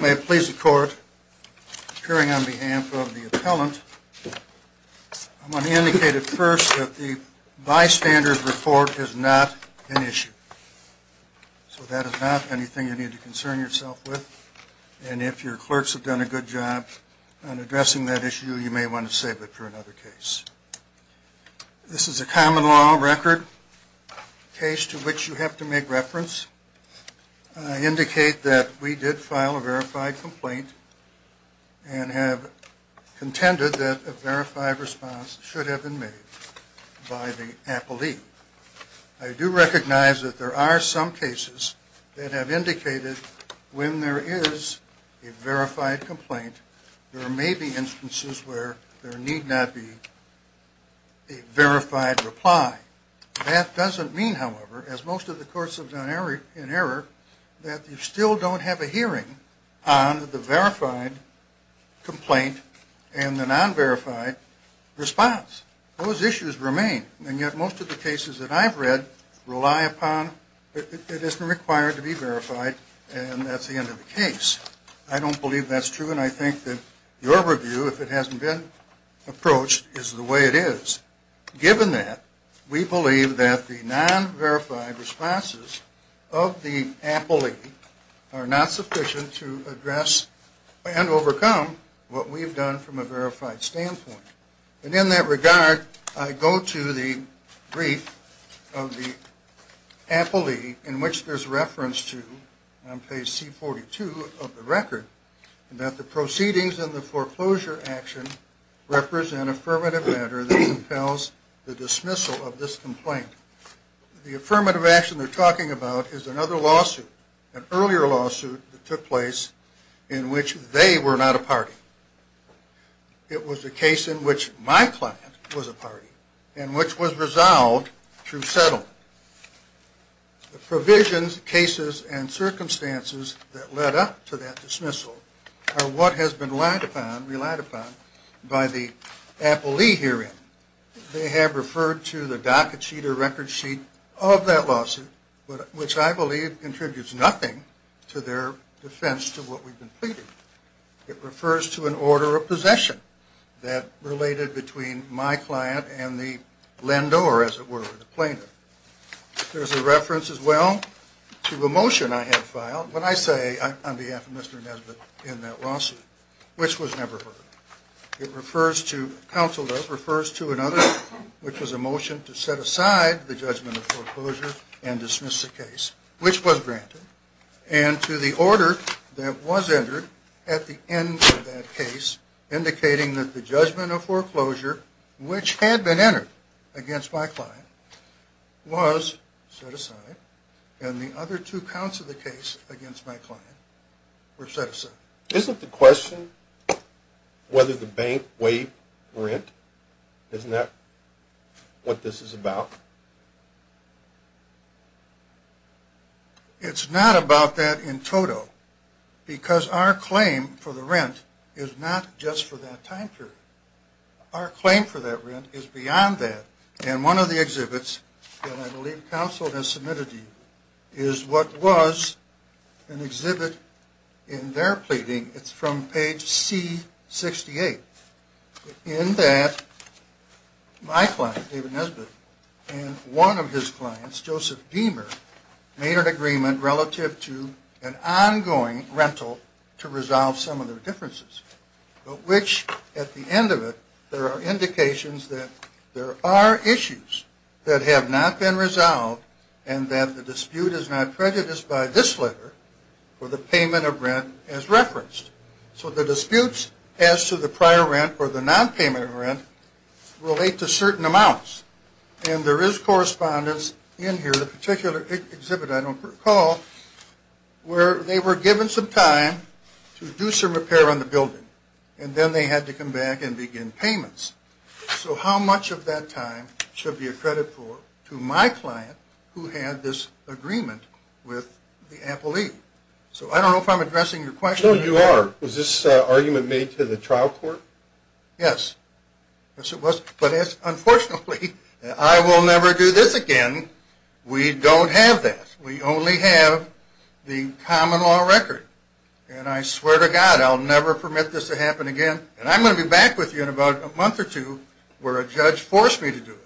May it please the court, appearing on behalf of the appellant, I want to indicate at first that the bystander's report is not an issue. So that is not anything you need to concern yourself with. And if your clerks have done a good job on addressing that issue, you may want to save it for another case. This is a common law record case to which you have to make reference. I indicate that we did file a verified complaint and have contended that a verified response should have been made by the appellee. I do recognize that there are some cases that have indicated when there is a verified complaint there may be instances where there need not be a verified reply. That doesn't mean, however, as most of the courts have done in error, that you still don't have a hearing on the verified complaint and the non-verified response. Those issues remain, and yet most of the cases that I've read rely upon it isn't required to be verified and that's the end of the case. I don't believe that's true, and I think that your review, if it hasn't been approached, is the way it is. Given that, we believe that the non-verified responses of the appellee are not sufficient to address and overcome what we've done from a verified standpoint. And in that regard, I go to the brief of the appellee in which there's reference to, on page C42 of the record, that the proceedings in the foreclosure action represent affirmative matter that compels the dismissal of this complaint. The affirmative action they're talking about is another lawsuit, an earlier lawsuit that took place in which they were not a party. It was a case in which my client was a party and which was resolved through settlement. The provisions, cases, and circumstances that led up to that dismissal are what has been relied upon by the appellee herein. They have referred to the docket sheet or record sheet of that lawsuit, which I believe contributes nothing to their defense to what we've been pleading. It refers to an order of possession that related between my client and the lender, or as it were, the plaintiff. There's a reference as well to a motion I had filed when I say, on behalf of Mr. Nesbitt, in that lawsuit, which was never heard. It refers to, counsel does, refers to another, which was a motion to set aside the judgment of foreclosure and dismiss the case, which was granted. And to the order that was entered at the end of that case, indicating that the judgment of foreclosure, which had been entered against my client, was set aside. And the other two counts of the case against my client were set aside. Isn't the question whether the bank waived rent, isn't that what this is about? It's not about that in total, because our claim for the rent is not just for that time period. Our claim for that rent is beyond that. And one of the exhibits that I believe counsel has submitted to you is what was an exhibit in their pleading. It's from page C68, in that my client, David Nesbitt, and one of his clients, Joseph Beamer, made an agreement relative to an ongoing rental to resolve some of their differences. But which, at the end of it, there are indications that there are issues that have not been resolved and that the dispute is not prejudiced by this letter or the payment of rent as referenced. So the disputes as to the prior rent or the nonpayment of rent relate to certain amounts. And there is correspondence in here, the particular exhibit I don't recall, where they were given some time to do some repair on the building. And then they had to come back and begin payments. So how much of that time should be a credit for to my client, who had this agreement with the appellee? So I don't know if I'm addressing your question. No, you are. Was this argument made to the trial court? Yes. Yes, it was. But unfortunately, I will never do this again. We don't have that. We only have the common law record. And I swear to God, I'll never permit this to happen again. And I'm going to be back with you in about a month or two where a judge forced me to do it.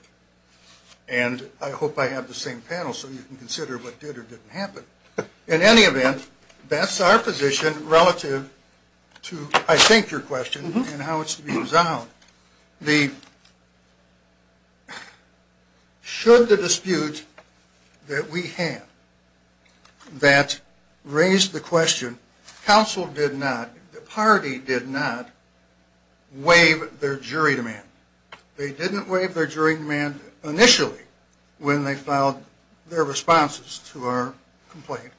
And I hope I have the same panel so you can consider what did or didn't happen. In any event, that's our position relative to, I think, your question and how it's being resolved. Should the dispute that we have that raised the question, counsel did not, the party did not waive their jury demand. They didn't waive their jury demand initially when they filed their responses to our complaint.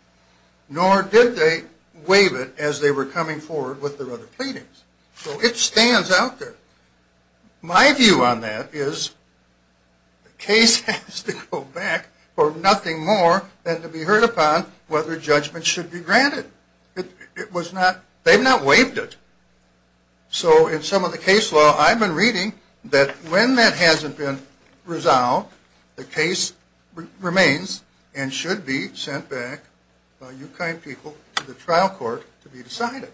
Nor did they waive it as they were coming forward with their other pleadings. So it stands out there. My view on that is the case has to go back for nothing more than to be heard upon whether judgment should be granted. It was not, they've not waived it. So in some of the case law, I've been reading that when that hasn't been resolved, the case remains and should be sent back by you kind people to the trial court to be decided.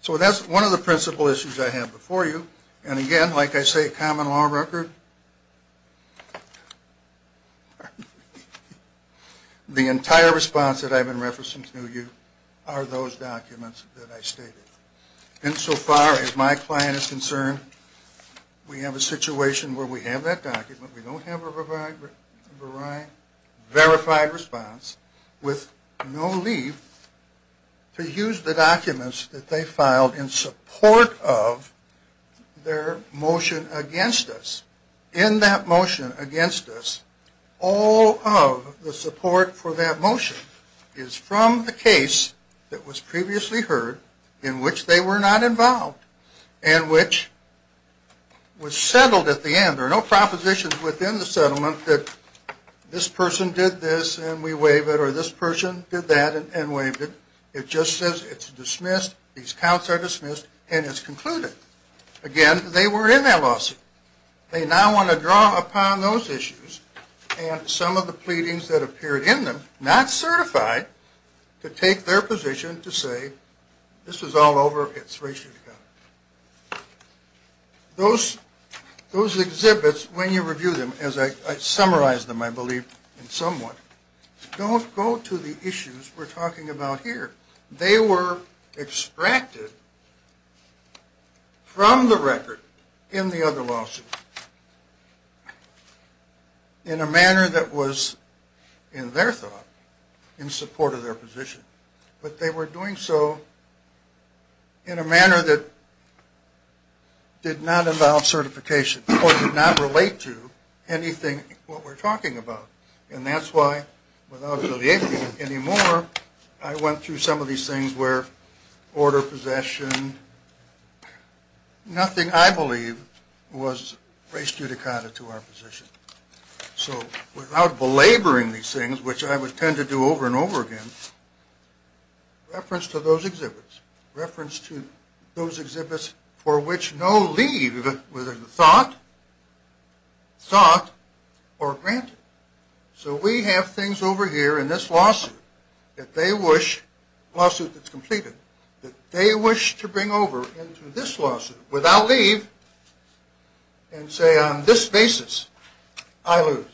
So that's one of the principal issues I have before you. And again, like I say, common law record. The entire response that I've been referencing to you are those documents that I stated. And so far as my client is concerned, we have a situation where we have that document. We don't have a verified response with no leave to use the documents that they filed in support of their motion against us. In that motion against us, all of the support for that motion is from the case that was previously heard in which they were not involved and which was settled at the end. There are no propositions within the settlement that this person did this and we waive it or this person did that and waived it. It just says it's dismissed, these counts are dismissed, and it's concluded. Again, they were in that lawsuit. They now want to draw upon those issues and some of the pleadings that appeared in them, not certified, to take their position to say this is all over, it's ratioed. Those exhibits, when you review them, as I summarized them, I believe, in some way, don't go to the issues we're talking about here. They were extracted from the record in the other lawsuit in a manner that was, in their thought, in support of their position. But they were doing so in a manner that did not involve certification or did not relate to anything what we're talking about. And that's why, without alleviating it anymore, I went through some of these things where order, possession, nothing, I believe, was raised judicata to our position. So without belaboring these things, which I would tend to do over and over again, reference to those exhibits. Reference to those exhibits for which no leave, whether in thought, thought, or granted. So we have things over here in this lawsuit that they wish, lawsuit that's completed, that they wish to bring over into this lawsuit without leave and say on this basis, I lose.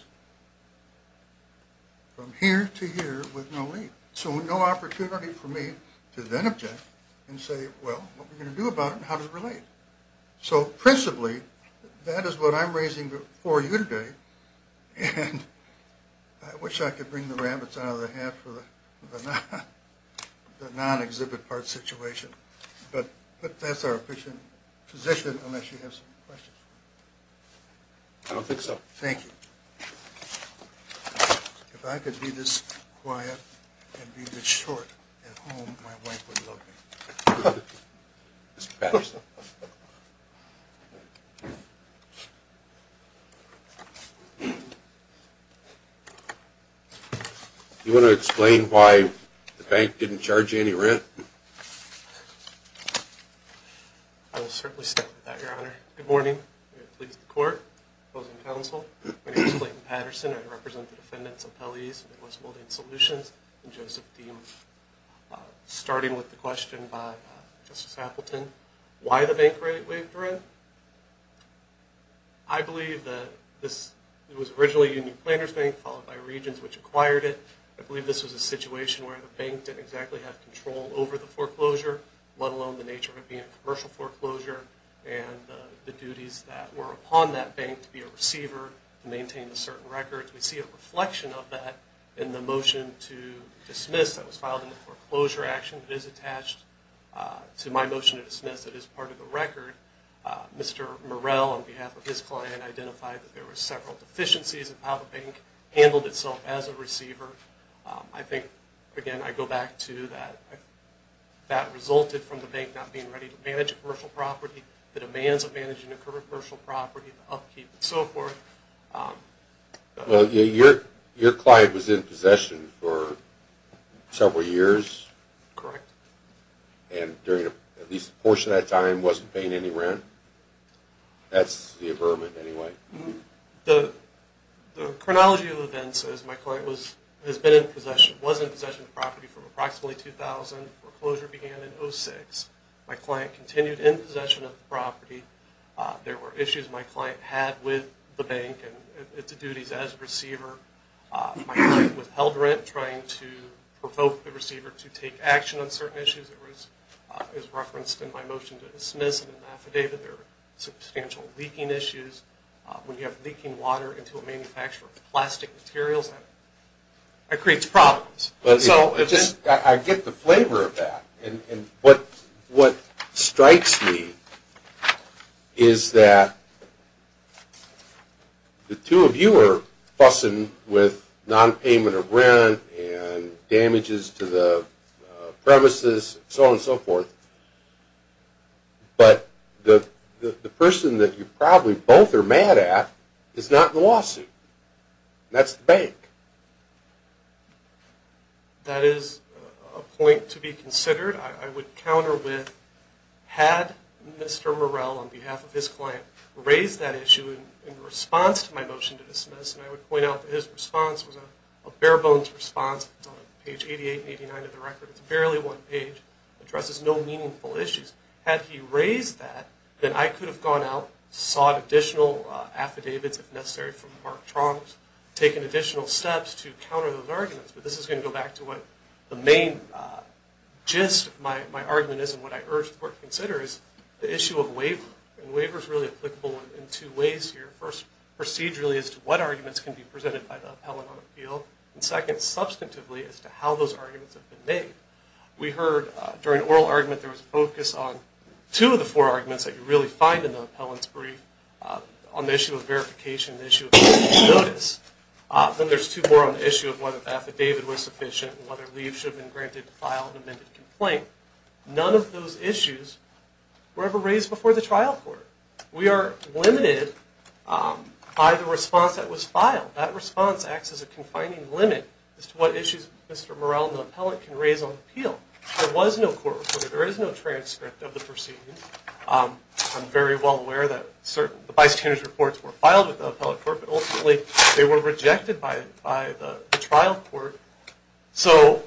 From here to here with no leave. So no opportunity for me to then object and say, well, what are we going to do about it and how does it relate? So principally, that is what I'm raising for you today. And I wish I could bring the rabbits out of the hat for the non-exhibit part situation. But that's our position, unless you have some questions. I don't think so. Thank you. If I could be this quiet and be this short at home, my wife would love me. Mr. Patterson. Do you want to explain why the bank didn't charge you any rent? I will certainly step up to that, Your Honor. Good morning. Pleased to court. Opposing counsel. My name is Clayton Patterson. I represent the defendants' appellees in the U.S. Molding Solutions. And Joseph Dean. Starting with the question by Justice Appleton, why the bank rate waived rent? I believe that this was originally Union Planners Bank, followed by Regions, which acquired it. I believe this was a situation where the bank didn't exactly have control over the foreclosure, let alone the nature of it being a commercial foreclosure and the duties that were upon that bank to be a receiver and maintain a certain record. We see a reflection of that in the motion to dismiss that was filed in the foreclosure action that is attached to my motion to dismiss that is part of the record. Mr. Morrell, on behalf of his client, identified that there were several deficiencies in how the bank handled itself as a receiver. I think, again, I go back to that that resulted from the bank not being ready to manage a commercial property, the demands of managing a commercial property, the upkeep, and so forth. Well, your client was in possession for several years? Correct. And during at least a portion of that time wasn't paying any rent? That's the averment, anyway. The chronology of events is my client has been in possession, was in possession of the property from approximately 2000. Foreclosure began in 2006. My client continued in possession of the property. There were issues my client had with the bank and its duties as a receiver. My client withheld rent trying to provoke the receiver to take action on certain issues. It was referenced in my motion to dismiss it in the affidavit. There were substantial leaking issues. When you have leaking water into a manufacturer of plastic materials, that creates problems. I get the flavor of that. And what strikes me is that the two of you are fussing with nonpayment of rent and damages to the premises, so on and so forth, but the person that you probably both are mad at is not in the lawsuit. That's the bank. That is a point to be considered. I would counter with, had Mr. Morell, on behalf of his client, raised that issue in response to my motion to dismiss, and I would point out that his response was a bare-bones response. It's on page 88 and 89 of the record. It's barely one page. It addresses no meaningful issues. Had he raised that, then I could have gone out, sought additional affidavits, if necessary, from Mark Trombs, taken additional steps to counter those arguments. But this is going to go back to what the main gist of my argument is and what I urge the Court to consider is the issue of waiver. And waiver is really applicable in two ways here. First, procedurally, as to what arguments can be presented by the appellant on appeal. And second, substantively, as to how those arguments have been made. We heard during oral argument there was a focus on two of the four arguments that you really find in the appellant's brief on the issue of verification, the issue of notice. Then there's two more on the issue of whether the affidavit was sufficient and whether leave should have been granted to file an amended complaint. None of those issues were ever raised before the trial court. We are limited by the response that was filed. That response acts as a confining limit as to what issues Mr. Morell, the appellant, can raise on appeal. There was no court report. There is no transcript of the proceedings. I'm very well aware that the bystander's reports were filed with the appellate court, but ultimately they were rejected by the trial court. So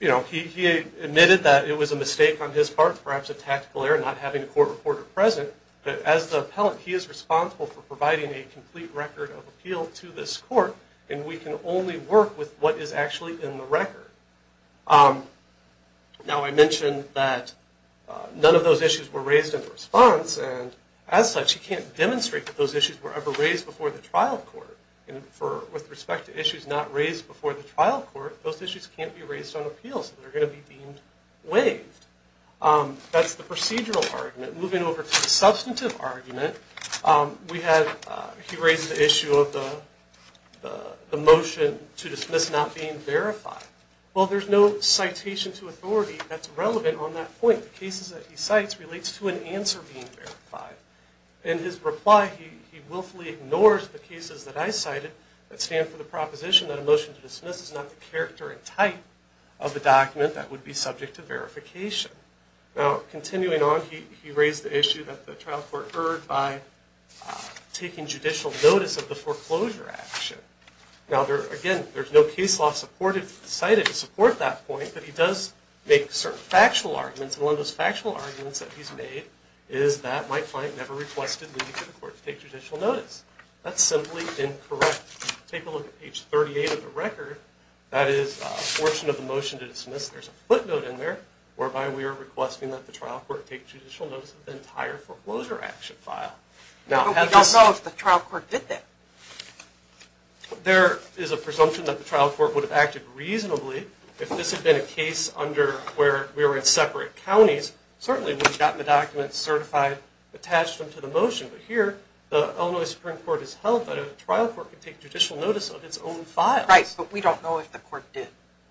he admitted that it was a mistake on his part, perhaps a tactical error, not having a court reporter present. But as the appellant, he is responsible for providing a complete record of appeal to this court, and we can only work with what is actually in the record. Now I mentioned that none of those issues were raised in response, and as such he can't demonstrate that those issues were ever raised before the trial court. With respect to issues not raised before the trial court, those issues can't be raised on appeal, so they're going to be deemed waived. That's the procedural argument. Moving over to the substantive argument, he raised the issue of the motion to dismiss not being verified. Well, there's no citation to authority that's relevant on that point. The cases that he cites relates to an answer being verified. In his reply, he willfully ignores the cases that I cited that stand for the proposition that a motion to dismiss is not the character and type of the document that would be subject to verification. Now, continuing on, he raised the issue that the trial court heard by taking judicial notice of the foreclosure action. Now, again, there's no case law cited to support that point, but he does make certain factual arguments, and one of those factual arguments that he's made is that my client never requested leaving to the court to take judicial notice. That's simply incorrect. Take a look at page 38 of the record. That is a portion of the motion to dismiss. There's a footnote in there whereby we are requesting that the trial court take judicial notice of the entire foreclosure action file. But we don't know if the trial court did that. There is a presumption that the trial court would have acted reasonably if this had been a case under where we were in separate counties. Certainly, we would have gotten the documents certified, attached them to the motion, but here the Illinois Supreme Court has held that a trial court could take judicial notice of its own file. Right, but we don't know if the court did.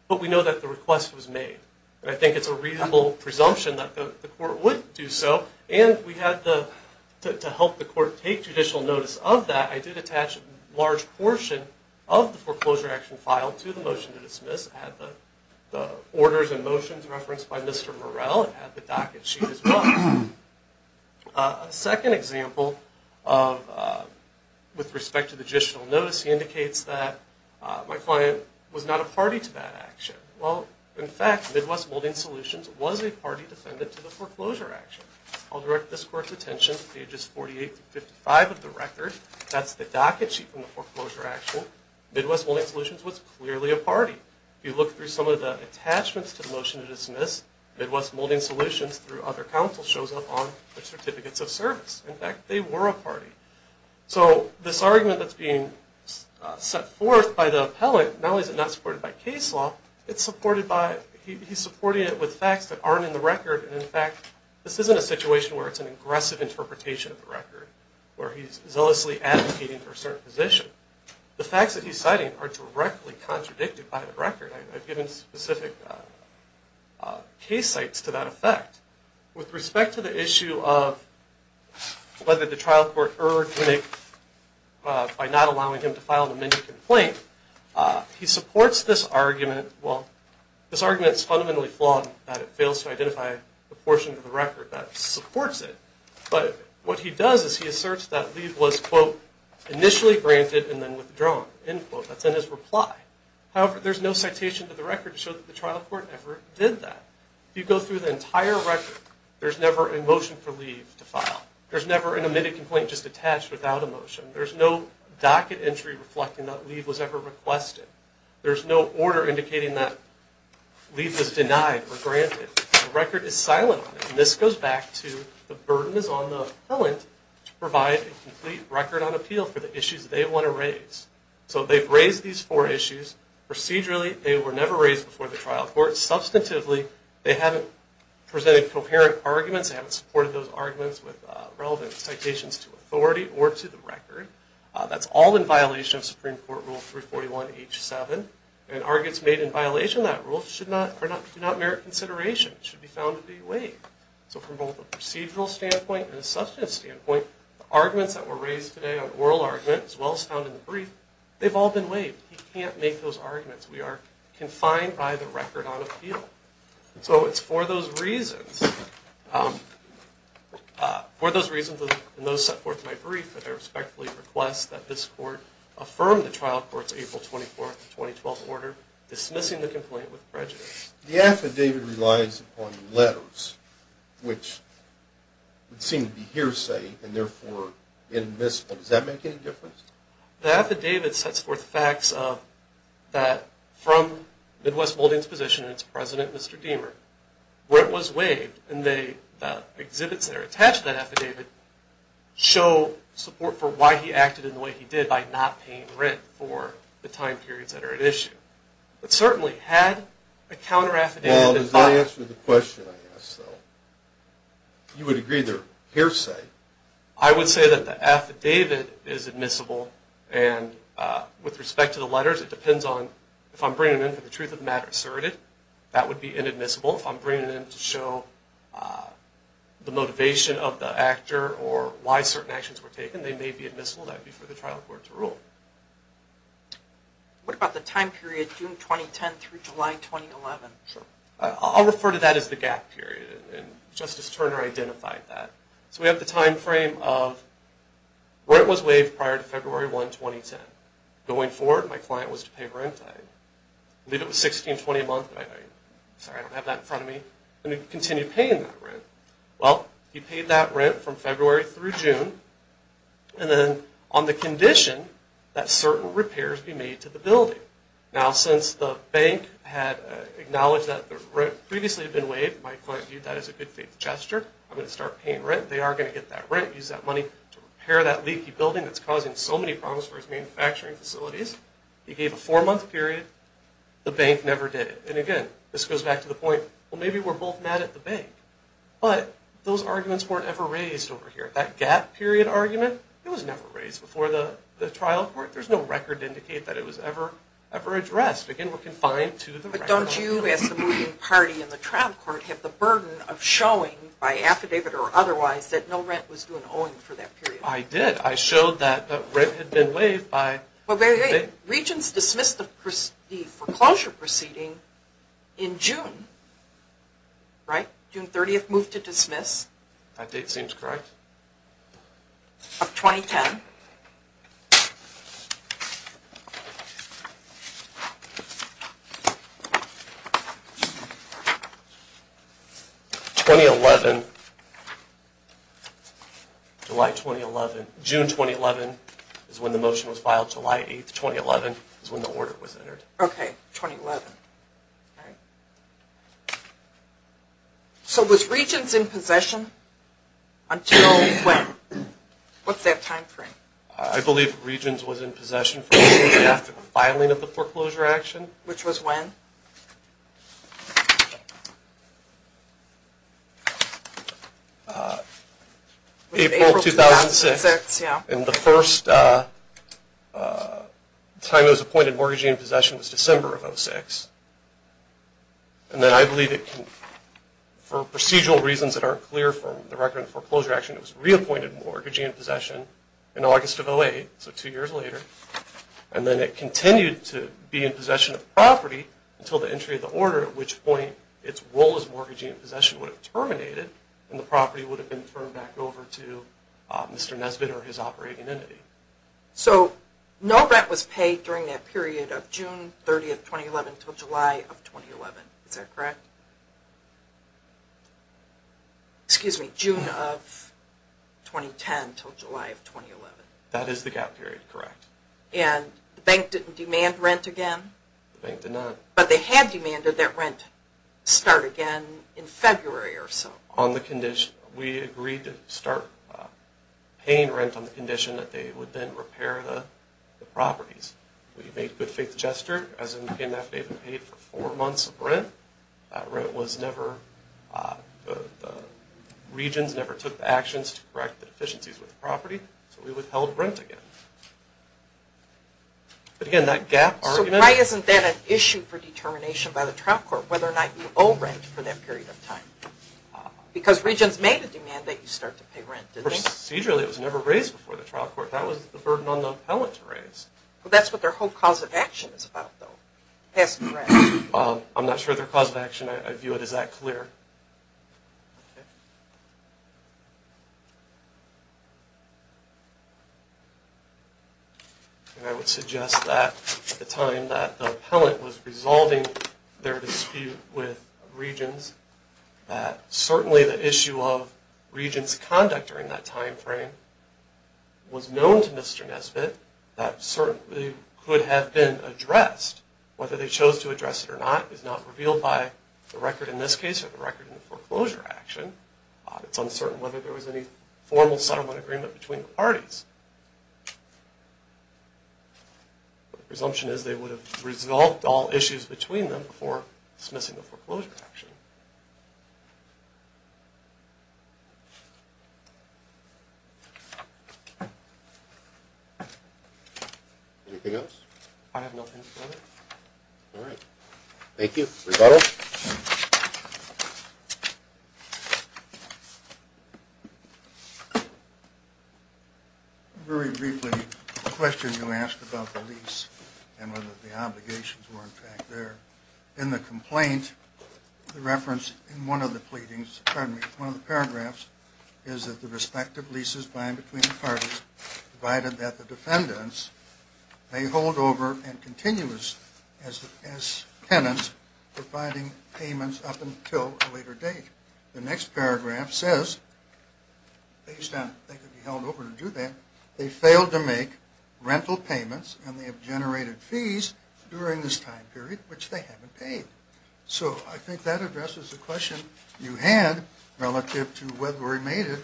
But we know that the request was made, and I think it's a reasonable presumption that the court would do so, and to help the court take judicial notice of that, I did attach a large portion of the foreclosure action file to the motion to dismiss. I had the orders and motions referenced by Mr. Morell. I had the docket sheet as well. A second example with respect to the judicial notice, he indicates that my client was not a party to that action. Well, in fact, Midwest Molding Solutions was a party defendant to the foreclosure action. I'll direct this court's attention to pages 48-55 of the record. That's the docket sheet from the foreclosure action. Midwest Molding Solutions was clearly a party. If you look through some of the attachments to the motion to dismiss, Midwest Molding Solutions through other counsel shows up on their certificates of service. In fact, they were a party. So this argument that's being set forth by the appellant, not only is it not supported by case law, he's supporting it with facts that aren't in the record, and, in fact, this isn't a situation where it's an aggressive interpretation of the record, where he's zealously advocating for a certain position. The facts that he's citing are directly contradicted by the record. I've given specific case sites to that effect. With respect to the issue of whether the trial court erred by not allowing him to file the mini-complaint, he supports this argument. Well, this argument is fundamentally flawed that it fails to identify a portion of the record that supports it. But what he does is he asserts that Lee was, quote, initially granted and then withdrawn, end quote. That's in his reply. However, there's no citation to the record to show that the trial court ever did that. If you go through the entire record, there's never a motion for Lee to file. There's never an admitted complaint just attached without a motion. There's no docket entry reflecting that Lee was ever requested. There's no order indicating that Lee was denied or granted. The record is silent on it. And this goes back to the burden is on the appellant to provide a complete record on appeal for the issues they want to raise. So they've raised these four issues. Procedurally, they were never raised before the trial court. Substantively, they haven't presented coherent arguments. They haven't supported those arguments with relevant citations to authority or to the record. That's all in violation of Supreme Court Rule 341H7. And arguments made in violation of that rule do not merit consideration. It should be found to be waived. So from both a procedural standpoint and a substantive standpoint, the arguments that were raised today on oral argument, as well as found in the brief, they've all been waived. He can't make those arguments. We are confined by the record on appeal. So it's for those reasons, and those set forth in my brief, that I respectfully request that this court affirm the trial court's April 24, 2012, order dismissing the complaint with prejudice. The affidavit relies upon letters, which would seem to be hearsay and therefore inadmissible. Does that make any difference? The affidavit sets forth the facts of that from Midwest Moulding's position, and it's President and Mr. Diemer, where it was waived, and the exhibits that are attached to that affidavit show support for why he acted in the way he did by not paying rent for the time periods that are at issue. But certainly, had a counter-affidavit been filed... Well, does that answer the question I asked, though? You would agree they're hearsay. I would say that the affidavit is admissible, and with respect to the letters, it depends on if I'm bringing it in for the truth of the matter asserted, that would be inadmissible. If I'm bringing it in to show the motivation of the actor or why certain actions were taken, they may be admissible. That would be for the trial court to rule. What about the time period June 2010 through July 2011? I'll refer to that as the gap period, and Justice Turner identified that. So we have the time frame of... Rent was waived prior to February 1, 2010. Going forward, my client was to pay rent. I believe it was $1620 a month. Sorry, I don't have that in front of me. And he continued paying that rent. Well, he paid that rent from February through June, and then on the condition that certain repairs be made to the building. Now, since the bank had acknowledged that the rent previously had been waived, my client viewed that as a good faith gesture. I'm going to start paying rent. They are going to get that rent, use that money to repair that leaky building that's causing so many problems for his manufacturing facilities. He gave a four-month period. The bank never did it. And again, this goes back to the point, well, maybe we're both mad at the bank. But those arguments weren't ever raised over here. That gap period argument, it was never raised before the trial court. There's no record to indicate that it was ever addressed. Again, we're confined to the record. Don't you, as the moving party in the trial court, have the burden of showing by affidavit or otherwise that no rent was due and owing for that period? I did. I showed that the rent had been waived by the date. Regents dismissed the foreclosure proceeding in June, right? June 30th, moved to dismiss. That date seems correct. Of 2010. 2011, July 2011. June 2011 is when the motion was filed. July 8th, 2011 is when the order was entered. Okay, 2011. So was Regents in possession until when? What's that time frame? I believe Regents was in possession for a period after the filing of the foreclosure action. Which was when? April 2006. And the first time it was appointed mortgagee in possession was December of 2006. And then I believe for procedural reasons that aren't clear from the record of foreclosure action, it was reappointed mortgagee in possession in August of 2008, so two years later. And then it continued to be in possession of property until the entry of the order, at which point its role as mortgagee in possession would have terminated and the property would have been turned back over to Mr. Nesbitt or his operating entity. So no rent was paid during that period of June 30th, 2011, until July of 2011. Is that correct? Excuse me, June of 2010 until July of 2011. That is the gap period, correct. And the bank didn't demand rent again? The bank did not. But they had demanded that rent start again in February or so. On the condition, we agreed to start paying rent on the condition that they would then repair the properties. We made good faith gesture, as in came after they had been paid for four months of rent. That rent was never, the Regents never took actions to correct the deficiencies with the property. So we withheld rent again. But again, that gap argument. So why isn't that an issue for determination by the trial court, whether or not you owe rent for that period of time? Because Regents made a demand that you start to pay rent, didn't they? Procedurally, it was never raised before the trial court. That was the burden on the appellant to raise. Well, that's what their whole cause of action is about, though, passing the rent. I'm not sure of their cause of action. I view it as that clear. And I would suggest that at the time that the appellant was resolving their dispute with Regents, that certainly the issue of Regents' conduct during that time frame was known to Mr. Nesbitt. That certainly could have been addressed. Whether they chose to address it or not is not revealed by the record in this case or the record in the foreclosure action. It's uncertain whether there was any formal settlement agreement between the parties. But the presumption is they would have resolved all issues between them before dismissing the foreclosure action. Anything else? I have nothing further. All right. Thank you. Rebuttal? Very briefly, the question you asked about the lease and whether the obligations were, in fact, there. In the complaint, the reference in one of the pleadings, pardon me, one of the paragraphs is that the respective leases bind between the may hold over and continuous as tenants providing payments up until a later date. The next paragraph says, based on they could be held over to do that, they failed to make rental payments and they have generated fees during this time period which they haven't paid. So I think that addresses the question you had relative to whether we made it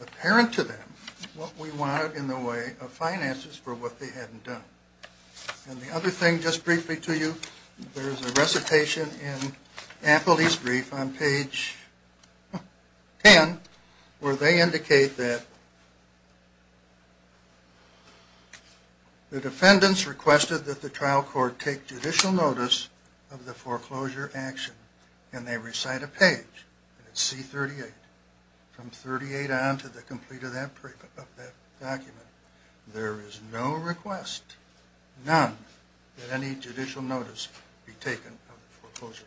apparent to them what we wanted in the way of finances for what they hadn't done. And the other thing, just briefly to you, there's a recitation in Apple Lease Brief on page 10 where they indicate that the defendants requested that the trial court take judicial notice of the foreclosure action. And they recite a page, C38, from 38 on to the complete of that document. There is no request, none, that any judicial notice be taken of the foreclosure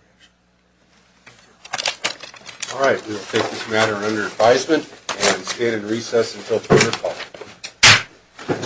action. Thank you. All right. We'll take this matter under advisement and stand in recess until further call.